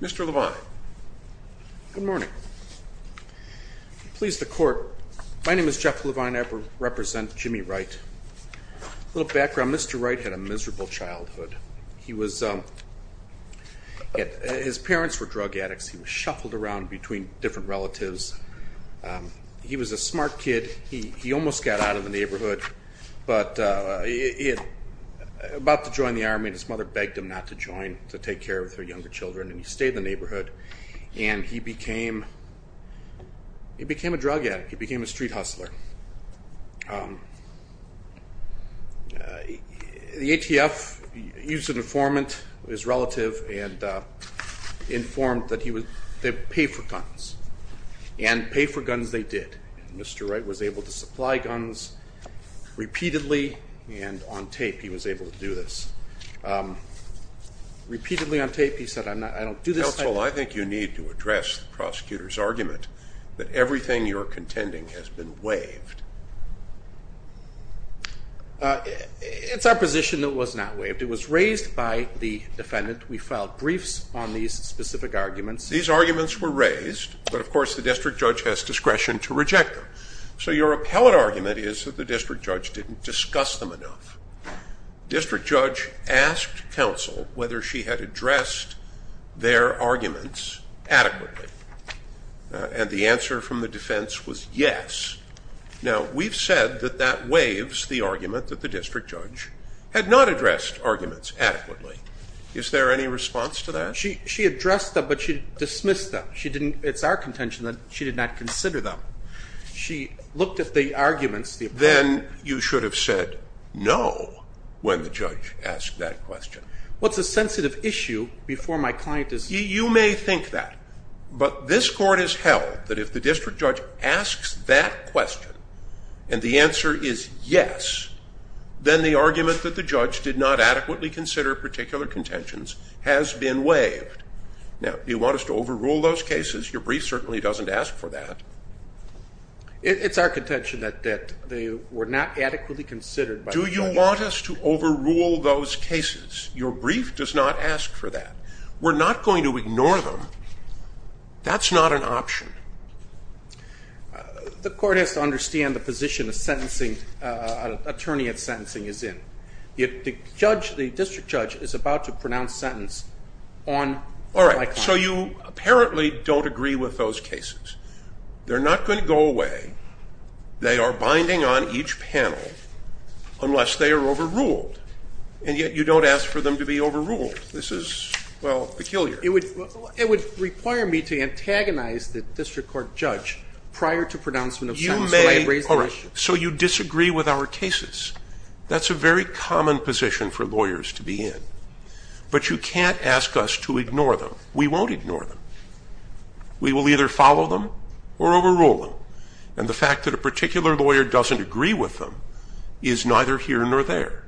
Mr. Levine. Good morning. Please the court. My name is Jeff Levine. I represent Jimmy Wright. A little background. Mr. Wright had a miserable childhood. His parents were drug addicts. He was a smart kid. He almost got out of the neighborhood, but he was about to join the army and his mother begged him not to join to take care of her younger children and he stayed in the neighborhood and he became a drug addict. He became a street hustler. The ATF used an informant, his relative, and pay for guns they did. Mr. Wright was able to supply guns repeatedly and on tape he was able to do this. Repeatedly on tape he said I'm not I don't do this. Counsel, I think you need to address the prosecutor's argument that everything you're contending has been waived. It's our position that was not waived. It was raised by the defendant. We filed briefs on these specific arguments. These arguments were rejected. So your appellate argument is that the district judge didn't discuss them enough. District judge asked counsel whether she had addressed their arguments adequately and the answer from the defense was yes. Now we've said that that waives the argument that the district judge had not addressed arguments adequately. Is there any response to that? She addressed them but she didn't consider them. She looked at the arguments. Then you should have said no when the judge asked that question. What's a sensitive issue before my client is... You may think that but this court has held that if the district judge asks that question and the answer is yes then the argument that the judge did not adequately consider particular contentions has been waived. Now you want us to overrule those cases. Your brief does not ask for that. We're not going to ignore them. That's not an option. The court has to understand the position a sentencing attorney of sentencing is in. If the judge, the district judge, is about to pronounce sentence on... All right, so you apparently don't agree with those cases. They're not going to go away. They are binding on each panel unless they are overruled and yet you don't ask for them to be overruled. This is, well, peculiar. It would require me to antagonize the district court judge prior to pronouncement of sentence. So you disagree with our cases. That's a very common position for lawyers to be in. But you can't ask us to ignore them. We won't ignore them. We will either follow them or overrule them and the fact that a particular lawyer doesn't agree with them is neither here nor there.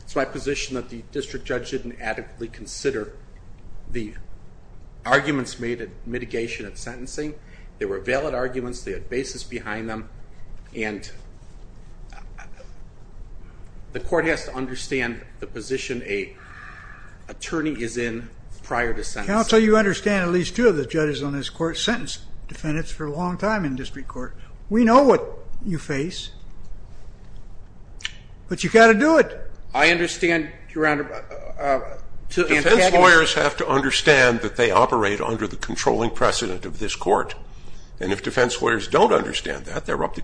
It's my position that the district judge didn't adequately consider the arguments made at the court. The court has to understand the position an attorney is in prior to sentencing. Counsel, you understand at least two of the judges on this court sentenced defendants for a long time in district court. We know what you face. But you've got to do it. I understand, Your Honor, to antagonize... Defense lawyers have to understand that they operate under the controlling precedent of this court. And if defense lawyers don't understand that, they're up the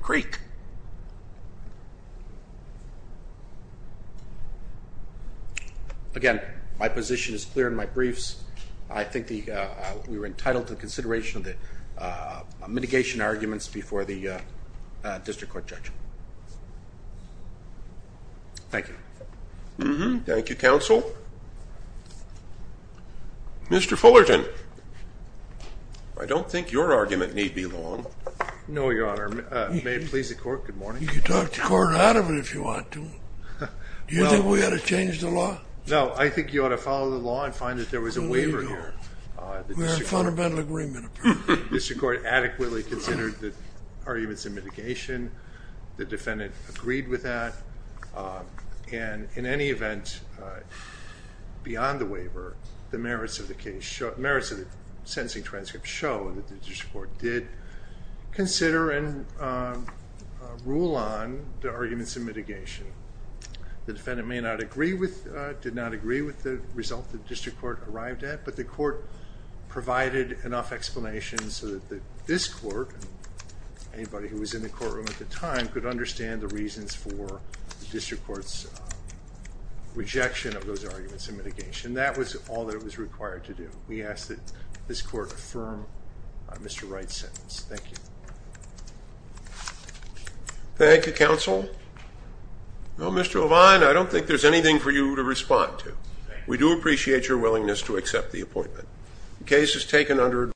Again, my position is clear in my briefs. I think we were entitled to consideration of the mitigation arguments before the district court judge. Thank you. Thank you, counsel. Mr. Fullerton, I don't think your argument need be long. No, Your Honor. May it please the court, good morning. You can talk the court out of it if you want to. Do you think we ought to change the law? No, I think you ought to follow the law and find that there was a waiver here. We had a fundamental agreement, apparently. The district court adequately considered the arguments in mitigation. The defendant agreed with that. And in any event, beyond the waiver, the merits of the waiver rule on the arguments in mitigation. The defendant may not agree with, did not agree with the result the district court arrived at, but the court provided enough explanation so that this court, anybody who was in the courtroom at the time, could understand the reasons for the district court's rejection of those arguments in mitigation. That was all that it was required to do. We ask that this court accept the appointment. Thank you, counsel. Mr. O'Vine, I don't think there's anything for you to respond to. We do appreciate your willingness to accept the appointment. The case is taken under